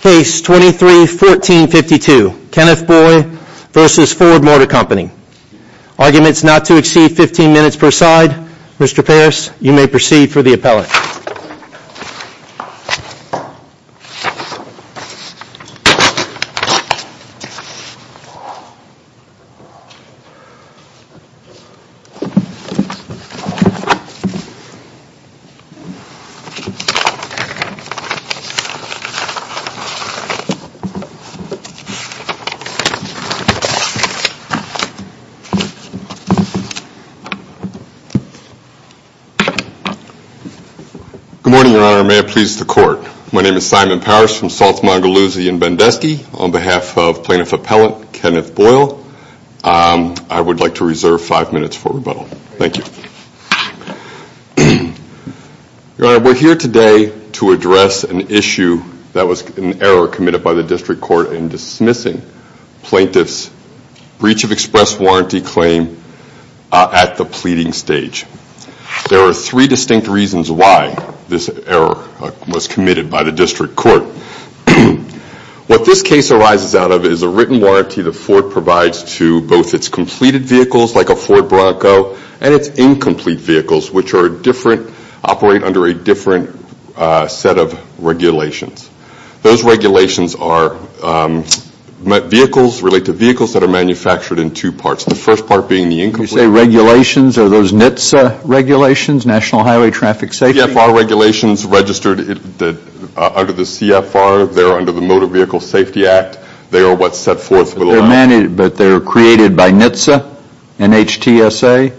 Case 23-14-52, Kenneth Boyle v. Ford Motor Company. Arguments not to exceed 15 minutes per side. Mr. Parris, you may proceed for the appellate. Good morning, Your Honor. May it please the Court. My name is Simon Parris from Salts, Montgomery, and Bendusky. On behalf of Plaintiff Appellant Kenneth Boyle, I would like to reserve five minutes for rebuttal. Thank you. Your Honor, we're here today to address an issue that was an error committed by the District Court in dismissing Plaintiff's Breach of Express Warranty claim at the pleading stage. There are three distinct reasons why this error was committed by the District Court. What this case arises out of is a written warranty that Ford provides to both its completed vehicles, like a Ford Bronco, and its incomplete vehicles, which operate under a different set of regulations. Those regulations relate to vehicles that are manufactured in two parts. The first part being the incomplete vehicles. You say regulations. Are those NHTSA regulations, National Highway Traffic Safety? They're CFR regulations registered under the CFR. They're under the Motor Vehicle Safety Act. They are what's set forth. But they're created by NHTSA? NHTSA?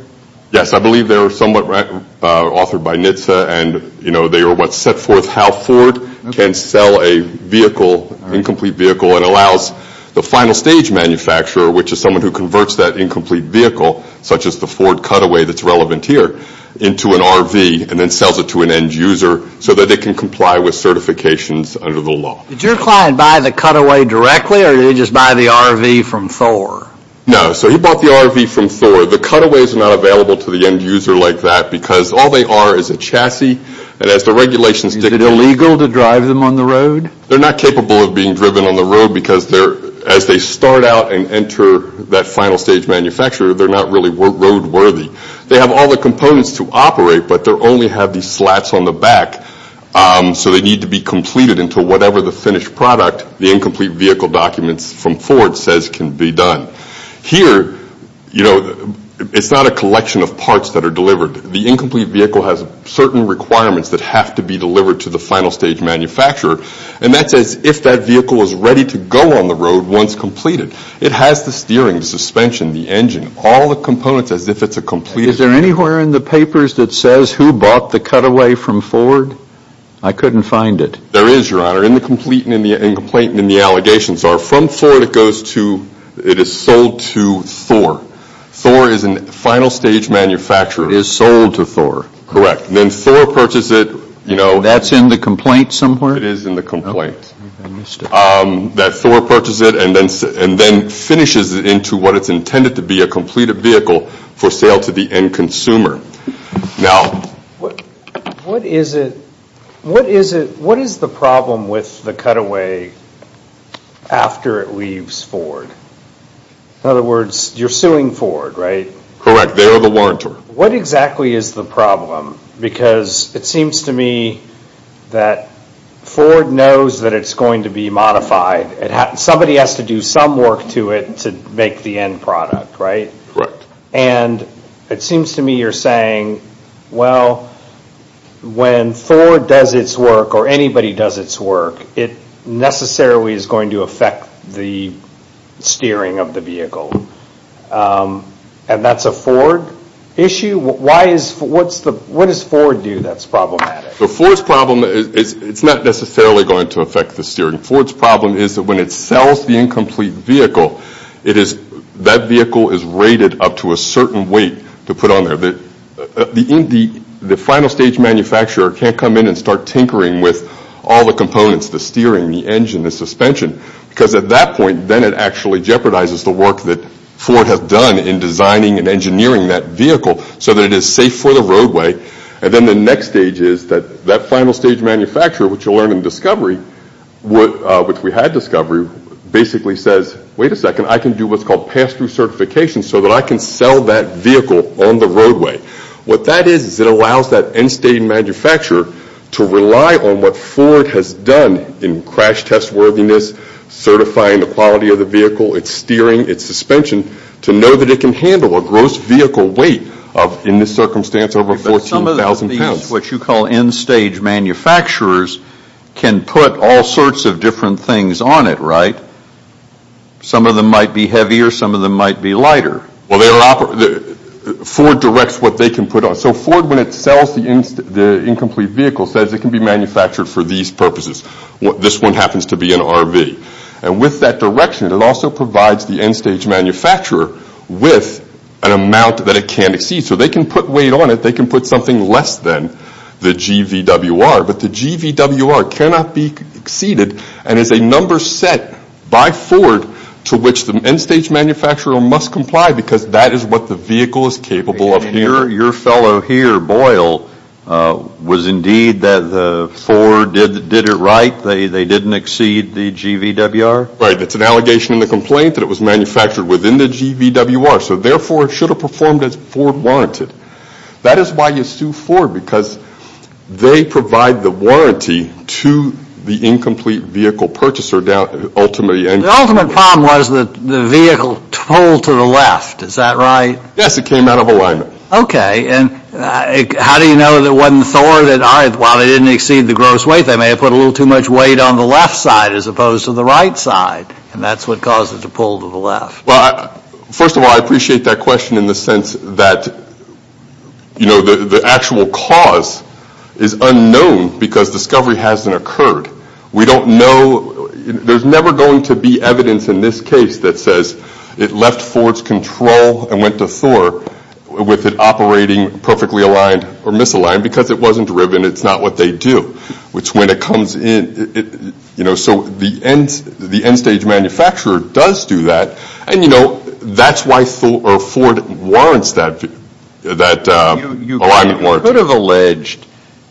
Yes, I believe they're somewhat authored by NHTSA, and they are what's set forth how Ford can sell a vehicle, incomplete vehicle, and allows the final stage manufacturer, which is someone who converts that incomplete vehicle, such as the Ford cutaway that's relevant here, into an RV and then sells it to an end user so that they can comply with certifications under the law. Did your client buy the cutaway directly, or did he just buy the RV from Thor? No, so he bought the RV from Thor. The cutaways are not available to the end user like that because all they are is a chassis, and as the regulations dictate... Is it illegal to drive them on the road? They're not capable of being driven on the road because as they start out and enter that final stage manufacturer, they're not really roadworthy. They have all the components to operate, but they only have these slats on the back, so they need to be completed until whatever the finished product, the incomplete vehicle documents from Ford says can be done. Here, it's not a collection of parts that are delivered. The incomplete vehicle has certain requirements that have to be delivered to the final stage manufacturer, and that's as if that vehicle is ready to go on the road once completed. It has the steering, the suspension, the engine, all the components as if it's a completed vehicle. Is there anywhere in the papers that says who bought the cutaway from Ford? I couldn't find it. There is, Your Honor, in the complete and in the incomplete and in the allegations are from Ford it goes to, it is sold to Thor. Thor is a final stage manufacturer. It is sold to Thor. Correct. Then Thor purchases it. That's in the complaint somewhere? It is in the complaint. I missed it. That Thor purchases it and then finishes it into what is intended to be a completed vehicle for sale to the end consumer. What is the problem with the cutaway after it leaves Ford? In other words, you're suing Ford, right? Correct. They are the warrantor. What exactly is the problem? Because it seems to me that Ford knows that it's going to be modified. Somebody has to do some work to it to make the end product, right? Correct. It seems to me you're saying, well, when Ford does its work or anybody does its work, it necessarily is going to affect the steering of the vehicle. And that's a Ford issue? What does Ford do that's problematic? Ford's problem, it's not necessarily going to affect the steering. Ford's problem is that when it sells the incomplete vehicle, that vehicle is rated up to a certain weight to put on there. The final stage manufacturer can't come in and start tinkering with all the components, the steering, the engine, the suspension, because at that point, then it actually jeopardizes the work that Ford has done in designing and engineering that vehicle so that it is safe for the roadway. And then the next stage is that that final stage manufacturer, which you'll learn in Discovery, which we had Discovery, basically says, wait a second, I can do what's called pass-through certification so that I can sell that vehicle on the roadway. What that is is it allows that end-stage manufacturer to rely on what Ford has done in crash test worthiness, certifying the quality of the vehicle, its steering, its suspension, to know that it can handle a gross vehicle weight of, in this circumstance, over 14,000 pounds. But some of these, what you call end-stage manufacturers, can put all sorts of different things on it, right? Some of them might be heavier. Some of them might be lighter. Ford directs what they can put on. So Ford, when it sells the incomplete vehicle, says it can be manufactured for these purposes. This one happens to be an RV. And with that direction, it also provides the end-stage manufacturer with an amount that it can't exceed. So they can put weight on it. They can put something less than the GVWR. But the GVWR cannot be exceeded and is a number set by Ford to which the end-stage manufacturer must comply because that is what the vehicle is capable of doing. Your fellow here, Boyle, was indeed that Ford did it right. They didn't exceed the GVWR? Right. It's an allegation in the complaint that it was manufactured within the GVWR. So therefore, it should have performed as Ford wanted. That is why you sue Ford because they provide the warranty to the incomplete vehicle purchaser ultimately. The ultimate problem was that the vehicle pulled to the left. Is that right? Yes. It came out of alignment. Okay. And how do you know that it wasn't Thor that, while it didn't exceed the gross weight, they may have put a little too much weight on the left side as opposed to the right side? And that's what caused it to pull to the left. Well, first of all, I appreciate that question in the sense that, you know, the actual cause is unknown because discovery hasn't occurred. We don't know. There's never going to be evidence in this case that says it left Ford's control and went to Thor with it operating perfectly aligned or misaligned because it wasn't driven. It's not what they do. Which when it comes in, you know, so the end stage manufacturer does do that. And, you know, that's why Ford warrants that alignment warranty. You could have alleged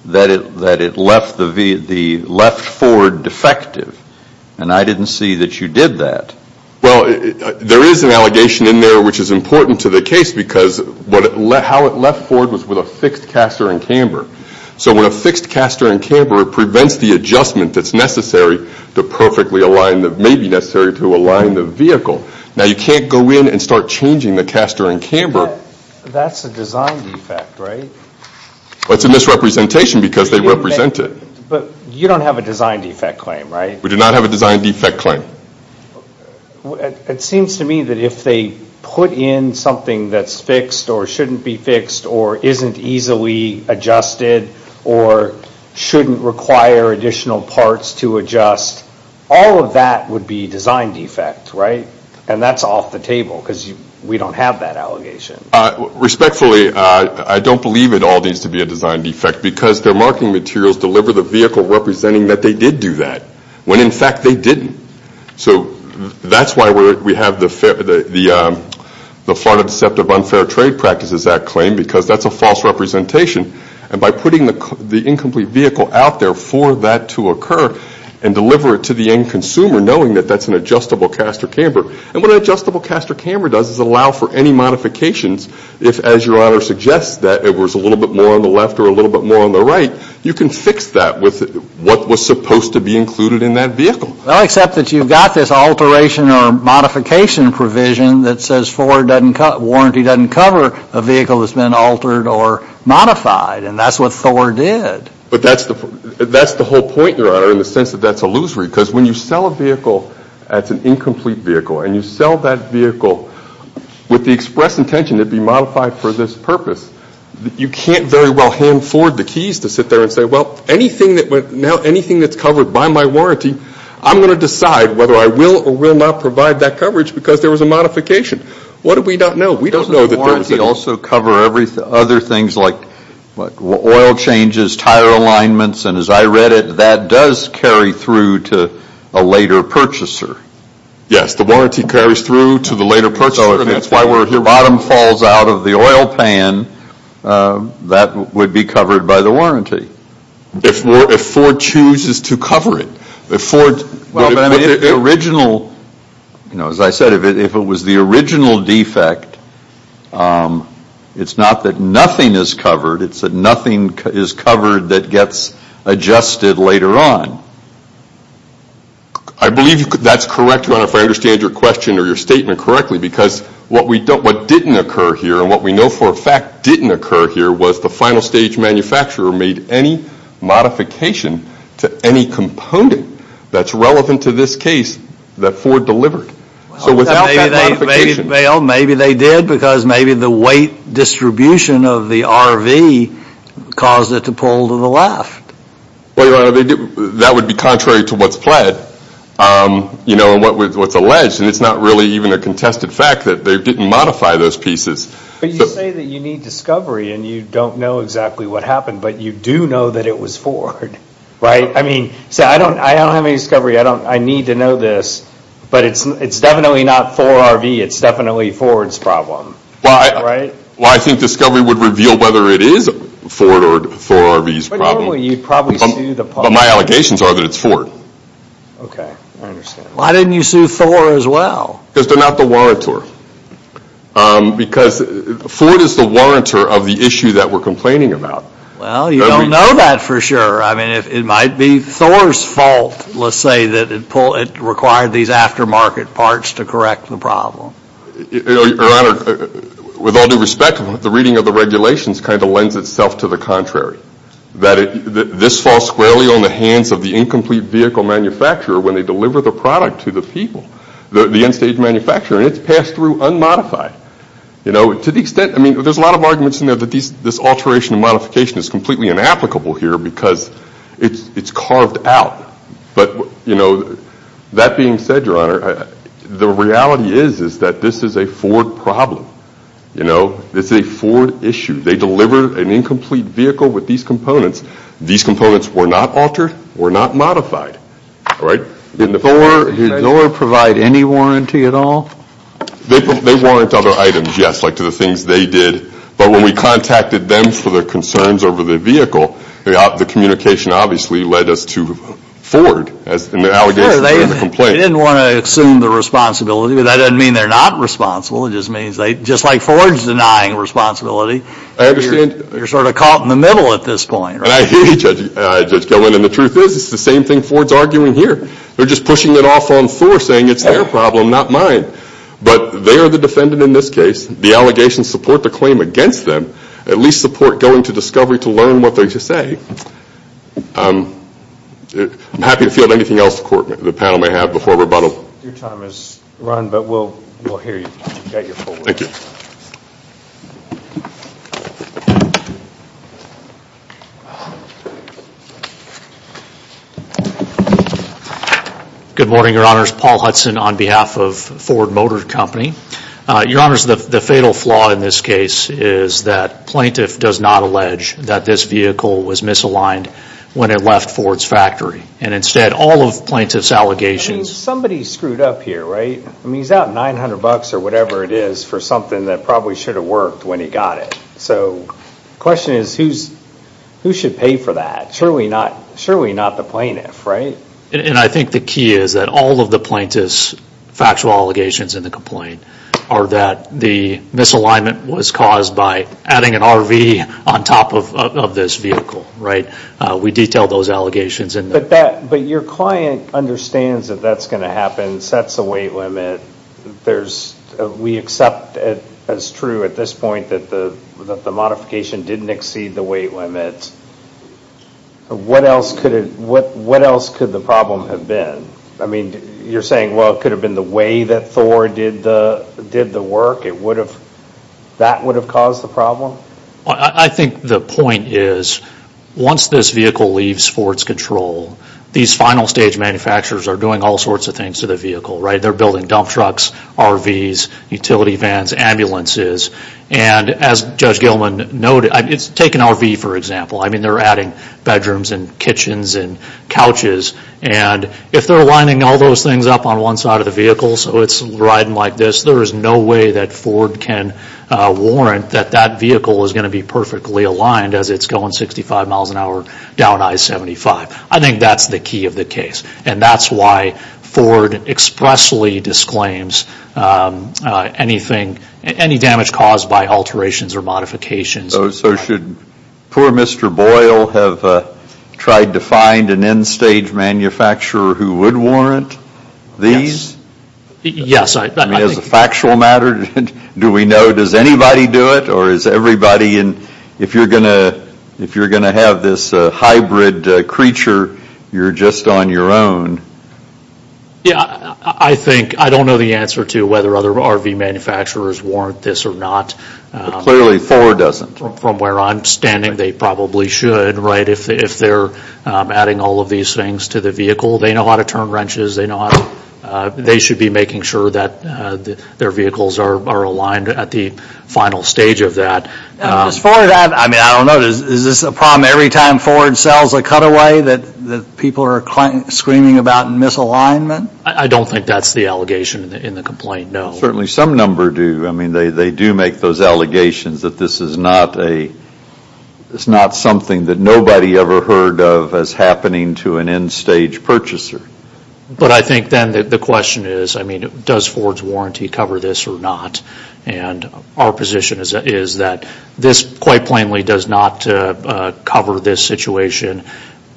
that it left Ford defective. And I didn't see that you did that. Well, there is an allegation in there which is important to the case because how it left Ford was with a fixed caster and camber. So when a fixed caster and camber prevents the adjustment that's necessary to perfectly align, that may be necessary to align the vehicle. Now, you can't go in and start changing the caster and camber. That's a design defect, right? Well, it's a misrepresentation because they represent it. But you don't have a design defect claim, right? We do not have a design defect claim. It seems to me that if they put in something that's fixed or shouldn't be fixed or isn't easily adjusted or shouldn't require additional parts to adjust, all of that would be design defect, right? And that's off the table because we don't have that allegation. Respectfully, I don't believe it all needs to be a design defect because their marketing materials deliver the vehicle representing that they did do that when in fact they didn't. So that's why we have the Farnam Deceptive Unfair Trade Practices Act claim because that's a false representation. And by putting the incomplete vehicle out there for that to occur and deliver it to the end consumer knowing that that's an adjustable caster and camber, and what an adjustable caster and camber does is allow for any modifications if, as Your Honor suggests, that it was a little bit more on the left or a little bit more on the right, you can fix that with what was supposed to be included in that vehicle. Well, except that you've got this alteration or modification provision that says Ford warranty doesn't cover a vehicle that's been altered or modified, and that's what Ford did. But that's the whole point, Your Honor, in the sense that that's illusory because when you sell a vehicle that's an incomplete vehicle and you sell that vehicle with the express intention it be modified for this purpose, you can't very well hand Ford the keys to sit there and say, well, now anything that's covered by my warranty, I'm going to decide whether I will or will not provide that coverage because there was a modification. What do we not know? We don't know that there was a modification. Doesn't the warranty also cover other things like oil changes, tire alignments? And as I read it, that does carry through to a later purchaser. Yes, the warranty carries through to the later purchaser. If the bottom falls out of the oil pan, that would be covered by the warranty. If Ford chooses to cover it. Well, as I said, if it was the original defect, it's not that nothing is covered, it's that nothing is covered that gets adjusted later on. I believe that's correct, Your Honor, if I understand your question or your statement correctly, because what didn't occur here and what we know for a fact didn't occur here was the final stage manufacturer made any modification to any component that's relevant to this case that Ford delivered. So without that modification. Well, maybe they did because maybe the weight distribution of the RV caused it to pull to the left. Well, Your Honor, that would be contrary to what's pled. You know, and what's alleged. And it's not really even a contested fact that they didn't modify those pieces. But you say that you need discovery and you don't know exactly what happened, but you do know that it was Ford, right? I mean, so I don't have any discovery. I need to know this. But it's definitely not Ford RV. It's definitely Ford's problem, right? Well, I think discovery would reveal whether it is Ford or Ford RV's problem. But normally you'd probably sue the public. But my allegations are that it's Ford. Okay, I understand. Why didn't you sue Thor as well? Because they're not the warrantor. Because Ford is the warrantor of the issue that we're complaining about. Well, you don't know that for sure. I mean, it might be Thor's fault, let's say, that it required these aftermarket parts to correct the problem. Your Honor, with all due respect, the reading of the regulations kind of lends itself to the contrary. That this falls squarely on the hands of the incomplete vehicle manufacturer when they deliver the product to the people, the end-stage manufacturer, and it's passed through unmodified. You know, to the extent, I mean, there's a lot of arguments in there that this alteration and modification is completely inapplicable here because it's carved out. But, you know, that being said, Your Honor, the reality is that this is a Ford problem. You know, it's a Ford issue. They delivered an incomplete vehicle with these components. These components were not altered, were not modified. All right? Did Thor provide any warranty at all? They warrant other items, yes, like to the things they did. But when we contacted them for their concerns over the vehicle, the communication obviously led us to Ford and their allegations regarding the complaint. Sure, they didn't want to assume the responsibility, but that doesn't mean they're not responsible. It just means they, just like Ford's denying responsibility. I understand. You're sort of caught in the middle at this point. And I hear you, Judge Gellman, and the truth is it's the same thing Ford's arguing here. They're just pushing it off on Thor saying it's their problem, not mine. But they are the defendant in this case. The allegations support the claim against them, at least support going to discovery to learn what they should say. I'm happy to field anything else the panel may have before rebuttal. Your time has run, but we'll hear you. Thank you. Good morning, Your Honors. Paul Hudson on behalf of Ford Motor Company. Your Honors, the fatal flaw in this case is that plaintiff does not allege that this vehicle was misaligned when it left Ford's factory. And instead, all of plaintiff's allegations I mean, somebody screwed up here, right? I mean, he's out 900 bucks or whatever it is for something that probably should have worked when he got it. So the question is who should pay for that? Surely not the plaintiff, right? And I think the key is that all of the plaintiff's factual allegations in the complaint are that the misalignment was caused by adding an RV on top of this vehicle, right? We detail those allegations. But your client understands that that's going to happen, sets a weight limit. We accept as true at this point that the modification didn't exceed the weight limit. What else could the problem have been? I mean, you're saying, well, it could have been the way that Thor did the work. That would have caused the problem? I think the point is once this vehicle leaves Ford's control, these final stage manufacturers are doing all sorts of things to the vehicle, right? They're building dump trucks, RVs, utility vans, ambulances. And as Judge Gilman noted, take an RV for example. I mean, they're adding bedrooms and kitchens and couches. And if they're lining all those things up on one side of the vehicle, so it's riding like this, there is no way that Ford can warrant that that vehicle is going to be perfectly aligned as it's going 65 miles an hour down I-75. I think that's the key of the case. And that's why Ford expressly disclaims anything, any damage caused by alterations or modifications. So should poor Mr. Boyle have tried to find an end stage manufacturer who would warrant these? Yes. I mean, as a factual matter, do we know, does anybody do it? Or is everybody in, if you're going to have this hybrid creature, you're just on your own? Yeah, I think, I don't know the answer to whether other RV manufacturers warrant this or not. Clearly Ford doesn't. From where I'm standing, they probably should, right? If they're adding all of these things to the vehicle, they know how to turn wrenches. They know how to, they should be making sure that their vehicles are aligned at the final stage of that. As far as that, I mean, I don't know. Is this a problem every time Ford sells a cutaway that people are screaming about misalignment? I don't think that's the allegation in the complaint, no. Certainly some number do. I mean, they do make those allegations that this is not a, it's not something that nobody ever heard of as happening to an end stage purchaser. But I think then the question is, I mean, does Ford's warranty cover this or not? And our position is that this quite plainly does not cover this situation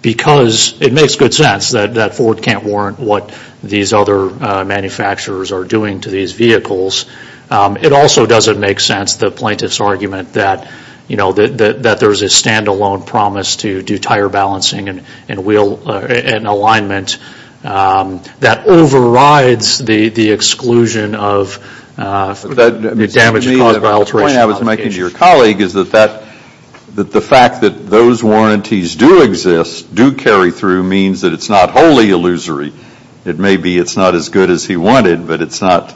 because it makes good sense that Ford can't warrant what these other manufacturers are doing to these vehicles. It also doesn't make sense, the plaintiff's argument, that, you know, that there's a stand-alone promise to do tire balancing and wheel alignment that overrides the exclusion of damage caused by alteration complications. The point I was making to your colleague is that the fact that those warranties do exist, do carry through, means that it's not wholly illusory. It may be it's not as good as he wanted, but it's not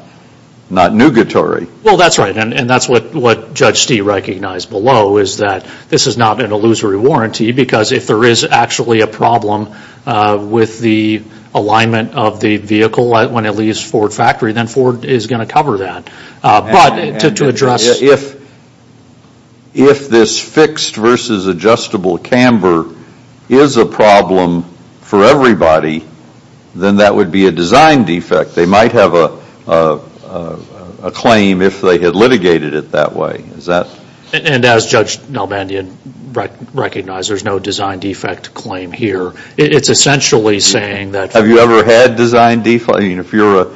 nugatory. Well, that's right, and that's what Judge Stee recognized below, is that this is not an illusory warranty because if there is actually a problem with the alignment of the vehicle when it leaves Ford factory, then Ford is going to cover that. If this fixed versus adjustable camber is a problem for everybody, then that would be a design defect. They might have a claim if they had litigated it that way. And as Judge Nalbandian recognized, there's no design defect claim here. It's essentially saying that... Have you ever had design defects? If you're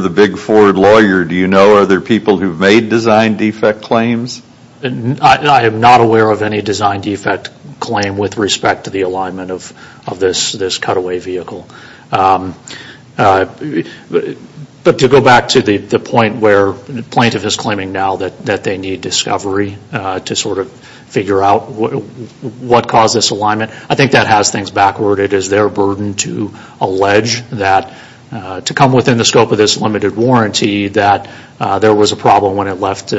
the big Ford lawyer, do you know other people who've made design defect claims? I am not aware of any design defect claim with respect to the alignment of this cutaway vehicle. But to go back to the point where the plaintiff is claiming now that they need discovery to sort of figure out what caused this alignment, I think that has things backward. It is their burden to allege that to come within the scope of this limited warranty that there was a problem when it left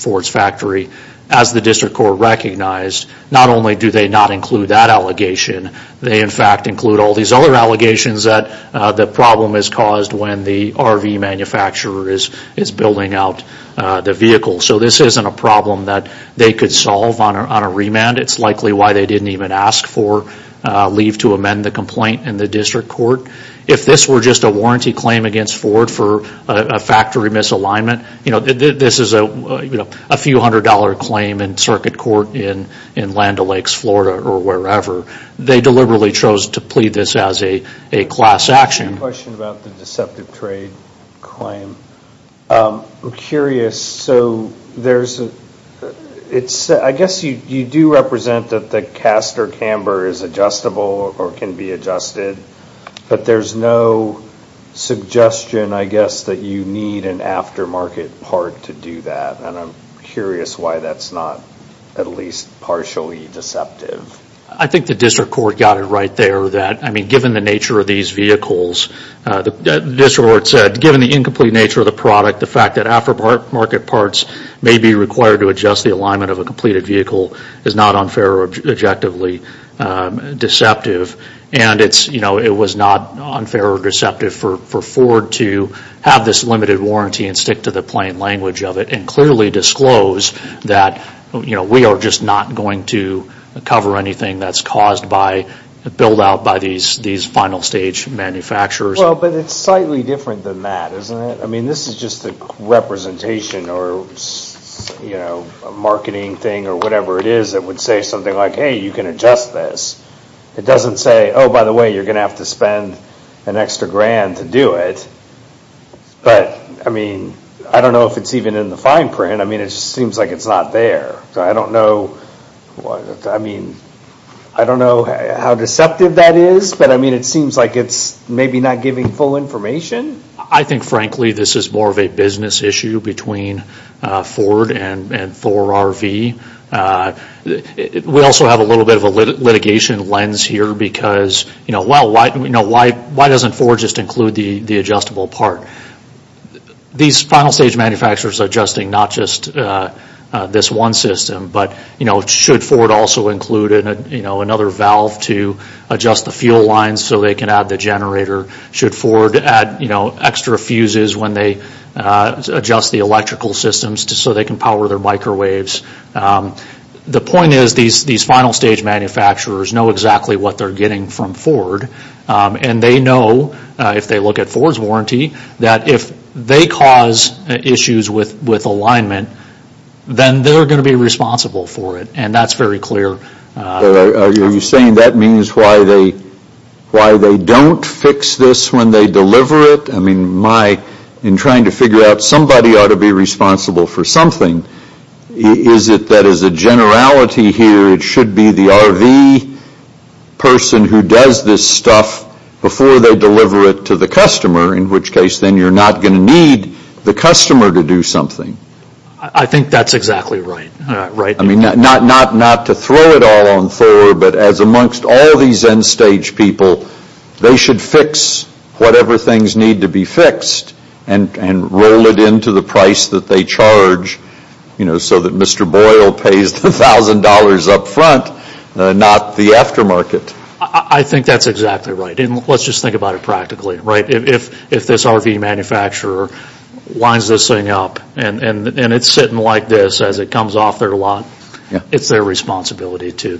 Ford's factory. As the district court recognized, not only do they not include that allegation, they in fact include all these other allegations that the problem is caused when the RV manufacturer is building out the vehicle. So this isn't a problem that they could solve on a remand. It's likely why they didn't even ask for leave to amend the complaint in the district court. If this were just a warranty claim against Ford for a factory misalignment, this is a few hundred dollar claim in circuit court in Land O'Lakes, Florida or wherever. They deliberately chose to plead this as a class action. I have a question about the deceptive trade claim. I'm curious. I guess you do represent that the caster camber is adjustable or can be adjusted, but there's no suggestion, I guess, that you need an aftermarket part to do that. I'm curious why that's not at least partially deceptive. I think the district court got it right there that given the nature of these vehicles, the district court said given the incomplete nature of the product, the fact that aftermarket parts may be required to adjust the alignment of a completed vehicle is not unfair or objectively deceptive. And it was not unfair or deceptive for Ford to have this limited warranty and stick to the plain language of it and clearly disclose that we are just not going to cover anything that's caused by, built out by these final stage manufacturers. Well, but it's slightly different than that, isn't it? I mean, this is just a representation or a marketing thing or whatever it is that would say something like, hey, you can adjust this. It doesn't say, oh, by the way, you're going to have to spend an extra grand to do it. But, I mean, I don't know if it's even in the fine print. I mean, it just seems like it's not there. So I don't know, I mean, I don't know how deceptive that is. But, I mean, it seems like it's maybe not giving full information. I think, frankly, this is more of a business issue between Ford and 4RV. We also have a little bit of a litigation lens here because, well, why doesn't Ford just include the adjustable part? These final stage manufacturers are adjusting not just this one system, but should Ford also include another valve to adjust the fuel lines so they can add the generator? Should Ford add extra fuses when they adjust the electrical systems so they can power their microwaves? The point is these final stage manufacturers know exactly what they're getting from Ford, and they know, if they look at Ford's warranty, that if they cause issues with alignment, then they're going to be responsible for it. And that's very clear. Are you saying that means why they don't fix this when they deliver it? I mean, in trying to figure out somebody ought to be responsible for something, is it that, as a generality here, it should be the RV person who does this stuff before they deliver it to the customer, in which case then you're not going to need the customer to do something. I think that's exactly right. I mean, not to throw it all on Thor, but as amongst all these end stage people, they should fix whatever things need to be fixed and roll it into the price that they charge, so that Mr. Boyle pays the $1,000 up front, not the aftermarket. I think that's exactly right. Let's just think about it practically. If this RV manufacturer lines this thing up, and it's sitting like this as it comes off their lot, it's their responsibility to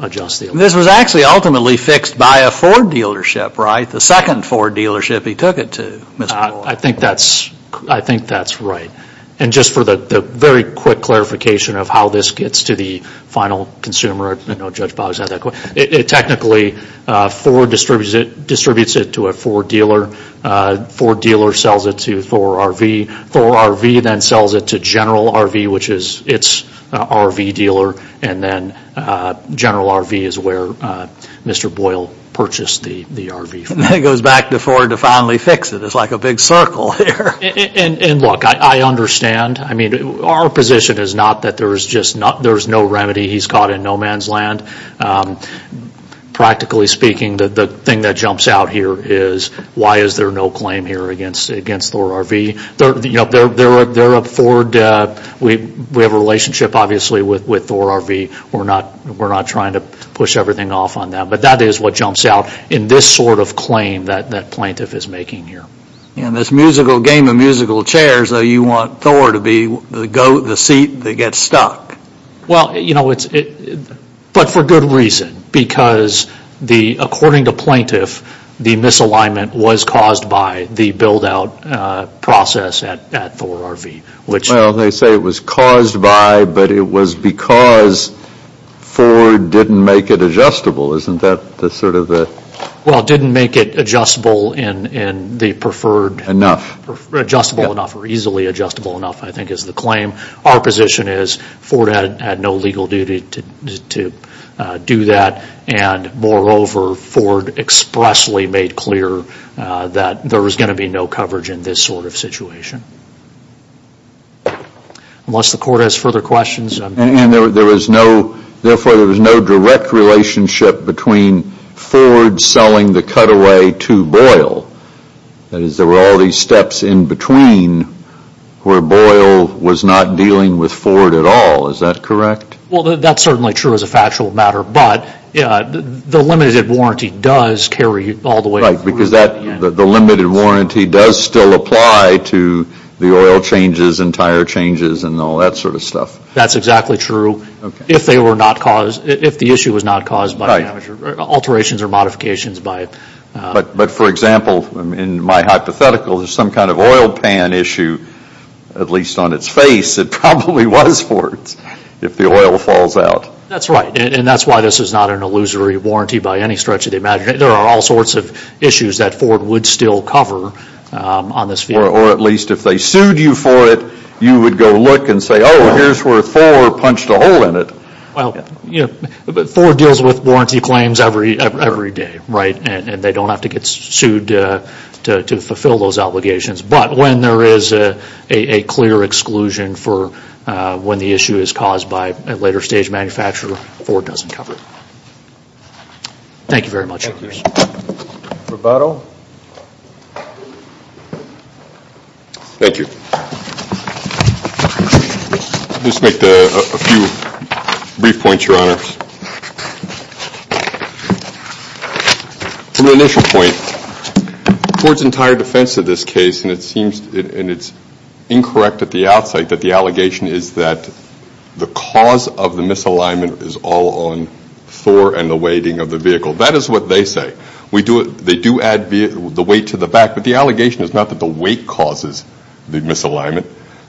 adjust the alignment. This was actually ultimately fixed by a Ford dealership, right? The second Ford dealership he took it to, Mr. Boyle. I think that's right. And just for the very quick clarification of how this gets to the final consumer, I know Judge Boggs had that question. Technically, Ford distributes it to a Ford dealer. Ford dealer sells it to Thor RV. Thor RV then sells it to General RV, which is its RV dealer, and then General RV is where Mr. Boyle purchased the RV from. And then it goes back to Ford to finally fix it. It's like a big circle here. And look, I understand. Our position is not that there's no remedy. He's caught in no man's land. Practically speaking, the thing that jumps out here is, why is there no claim here against Thor RV? They're a Ford. We have a relationship, obviously, with Thor RV. We're not trying to push everything off on them. But that is what jumps out in this sort of claim that Plaintiff is making here. In this game of musical chairs, you want Thor to be the seat that gets stuck. Well, you know, but for good reason. Because according to Plaintiff, the misalignment was caused by the build-out process at Thor RV. Well, they say it was caused by, but it was because Ford didn't make it adjustable. Isn't that sort of the... Well, it didn't make it adjustable in the preferred... Adjustable enough, or easily adjustable enough, I think is the claim. Our position is Ford had no legal duty to do that. And moreover, Ford expressly made clear that there was going to be no coverage in this sort of situation. Unless the Court has further questions... And there was no... Therefore, there was no direct relationship between Ford selling the cutaway to Boyle. That is, there were all these steps in between where Boyle was not dealing with Ford at all. Is that correct? Well, that's certainly true as a factual matter. But the limited warranty does carry all the way... Right, because the limited warranty does still apply to the oil changes and tire changes and all that sort of stuff. That's exactly true. If they were not caused... If the issue was not caused by alterations or modifications by... But for example, in my hypothetical, there's some kind of oil pan issue, at least on its face, it probably was Ford's if the oil falls out. That's right. And that's why this is not an illusory warranty by any stretch of the imagination. There are all sorts of issues that Ford would still cover on this field. Or at least if they sued you for it, you would go look and say, oh, here's where Ford punched a hole in it. Well, Ford deals with warranty claims every day, right? And they don't have to get sued to fulfill those obligations. But when there is a clear exclusion for... When the issue is caused by a later stage manufacturer, Ford doesn't cover it. Thank you very much. Thank you. Rebuttal? Thank you. Just make a few brief points, Your Honor. From the initial point, Ford's entire defense of this case, and it's incorrect at the outset that the allegation is that the cause of the misalignment is all on Thor and the weighting of the vehicle. That is what they say. They do add the weight to the back, but the allegation is not that the weight causes the misalignment.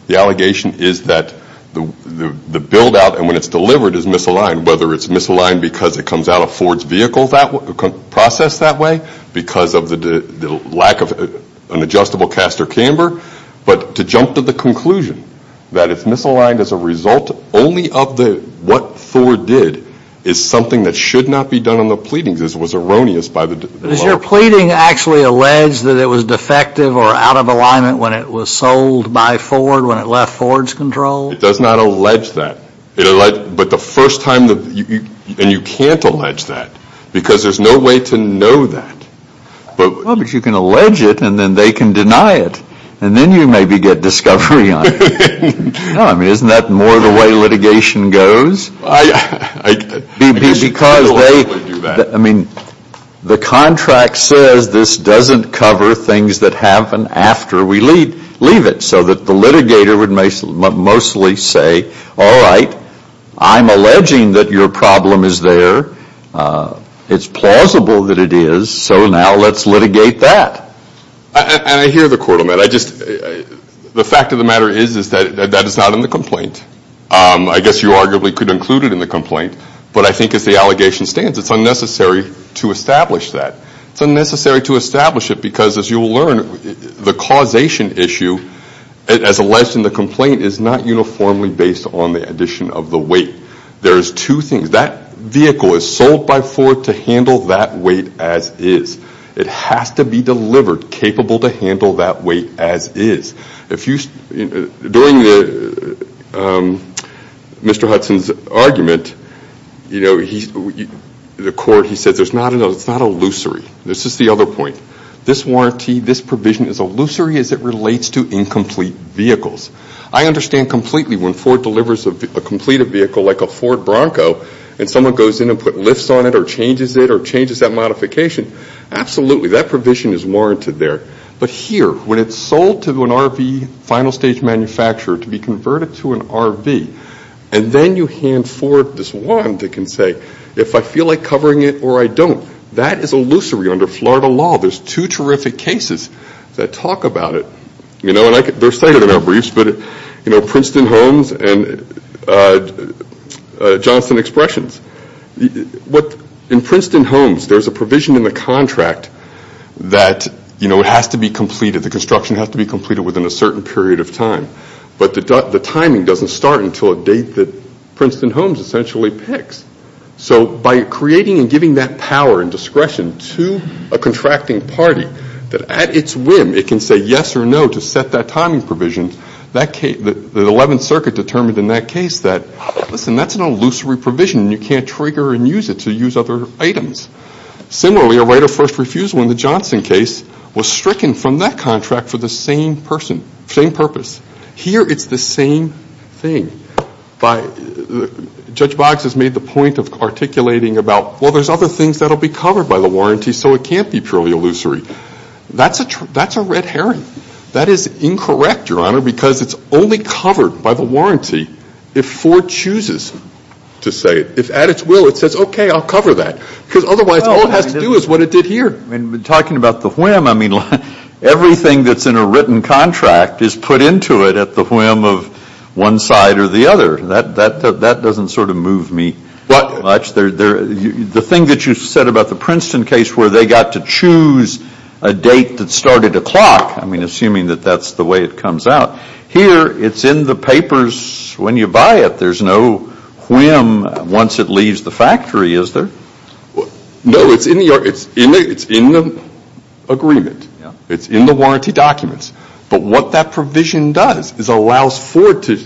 The allegation is that the build-out, and when it's delivered, is misaligned, whether it's misaligned because it comes out of Ford's vehicle process that way, because of the lack of an adjustable caster camber. But to jump to the conclusion that it's misaligned as a result only of what Thor did is something that should not be done on the pleadings. This was erroneous by the lawyer. Does your pleading actually allege that it was defective or out of alignment when it was sold by Ford, when it left Ford's control? It does not allege that. But the first time that... And you can't allege that because there's no way to know that. Well, but you can allege it, and then they can deny it, and then you maybe get discovery on it. I mean, isn't that more the way litigation goes? I guess you could allegedly do that. I mean, the contract says this doesn't cover things that happen after we leave it, so that the litigator would mostly say, all right, I'm alleging that your problem is there. It's plausible that it is, so now let's litigate that. And I hear the court on that. The fact of the matter is that that is not in the complaint. I guess you arguably could include it in the complaint, but I think as the allegation stands, it's unnecessary to establish that. It's unnecessary to establish it because, as you will learn, the causation issue as alleged in the complaint is not uniformly based on the addition of the weight. There's two things. That vehicle is sold by Ford to handle that weight as is. It has to be delivered capable to handle that weight as is. During Mr. Hudson's argument, the court, he said, it's not illusory. This is the other point. This warranty, this provision is illusory as it relates to incomplete vehicles. I understand completely when Ford delivers a completed vehicle, like a Ford Bronco, and someone goes in and puts lifts on it or changes it or changes that modification. Absolutely, that provision is warranted there. But here, when it's sold to an RV final stage manufacturer to be converted to an RV, and then you hand Ford this one that can say, if I feel like covering it or I don't, that is illusory under Florida law. There's two terrific cases that talk about it. They're cited in our briefs, but Princeton-Holmes and Johnson Expressions. In Princeton-Holmes, there's a provision in the contract that has to be completed. The construction has to be completed within a certain period of time. But the timing doesn't start until a date that Princeton-Holmes essentially picks. So by creating and giving that power and discretion to a contracting party, that at its whim it can say yes or no to set that timing provision, the 11th Circuit determined in that case that, listen, that's an illusory provision and you can't trigger and use it to use other items. Similarly, a right of first refusal in the Johnson case was stricken from that contract for the same purpose. Here it's the same thing. Judge Boggs has made the point of articulating about, well, there's other things that will be covered by the warranty, so it can't be purely illusory. That's a red herring. That is incorrect, Your Honor, because it's only covered by the warranty if Ford chooses to say it. If at its will it says, okay, I'll cover that, because otherwise all it has to do is what it did here. And talking about the whim, I mean, everything that's in a written contract is put into it at the whim of one side or the other. That doesn't sort of move me much. The thing that you said about the Princeton case where they got to choose a date that started a clock, I mean, assuming that that's the way it comes out, here it's in the papers when you buy it. There's no whim once it leaves the factory, is there? No, it's in the agreement. It's in the warranty documents. But what that provision does is allows Ford to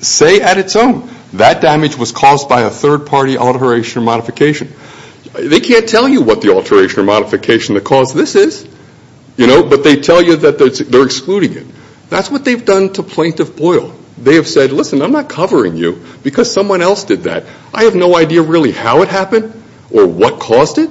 say at its own, that damage was caused by a third-party alteration or modification. They can't tell you what the alteration or modification that caused this is, you know, but they tell you that they're excluding it. That's what they've done to Plaintiff Boyle. They have said, listen, I'm not covering you because someone else did that. I have no idea really how it happened or what caused it,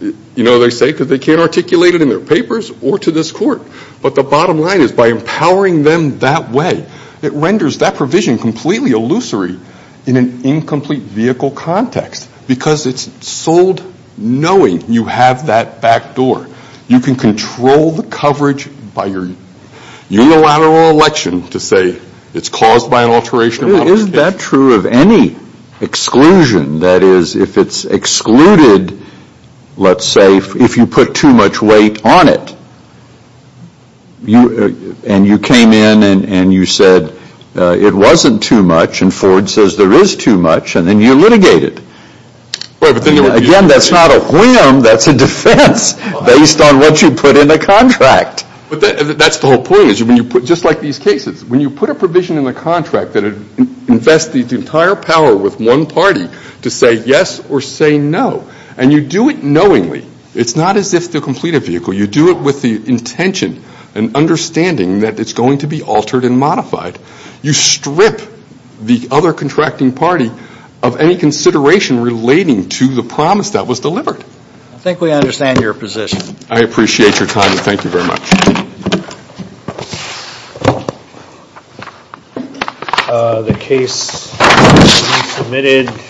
you know, they say, because they can't articulate it in their papers or to this Court. But the bottom line is by empowering them that way, it renders that provision completely illusory in an incomplete vehicle context because it's sold knowing you have that back door. You can control the coverage by your unilateral election to say it's caused by an alteration. Is that true of any exclusion? That is, if it's excluded, let's say, if you put too much weight on it, and you came in and you said it wasn't too much, and Ford says there is too much, and then you litigate it. Again, that's not a whim, that's a defense based on what you put in the contract. But that's the whole point is when you put, just like these cases, when you put a provision in the contract that invests the entire power with one party to say yes or say no, and you do it knowingly, it's not as if to complete a vehicle. You do it with the intention and understanding that it's going to be altered and modified. You strip the other contracting party of any consideration relating to the promise that was delivered. I think we understand your position. I appreciate your time and thank you very much. The case has been submitted.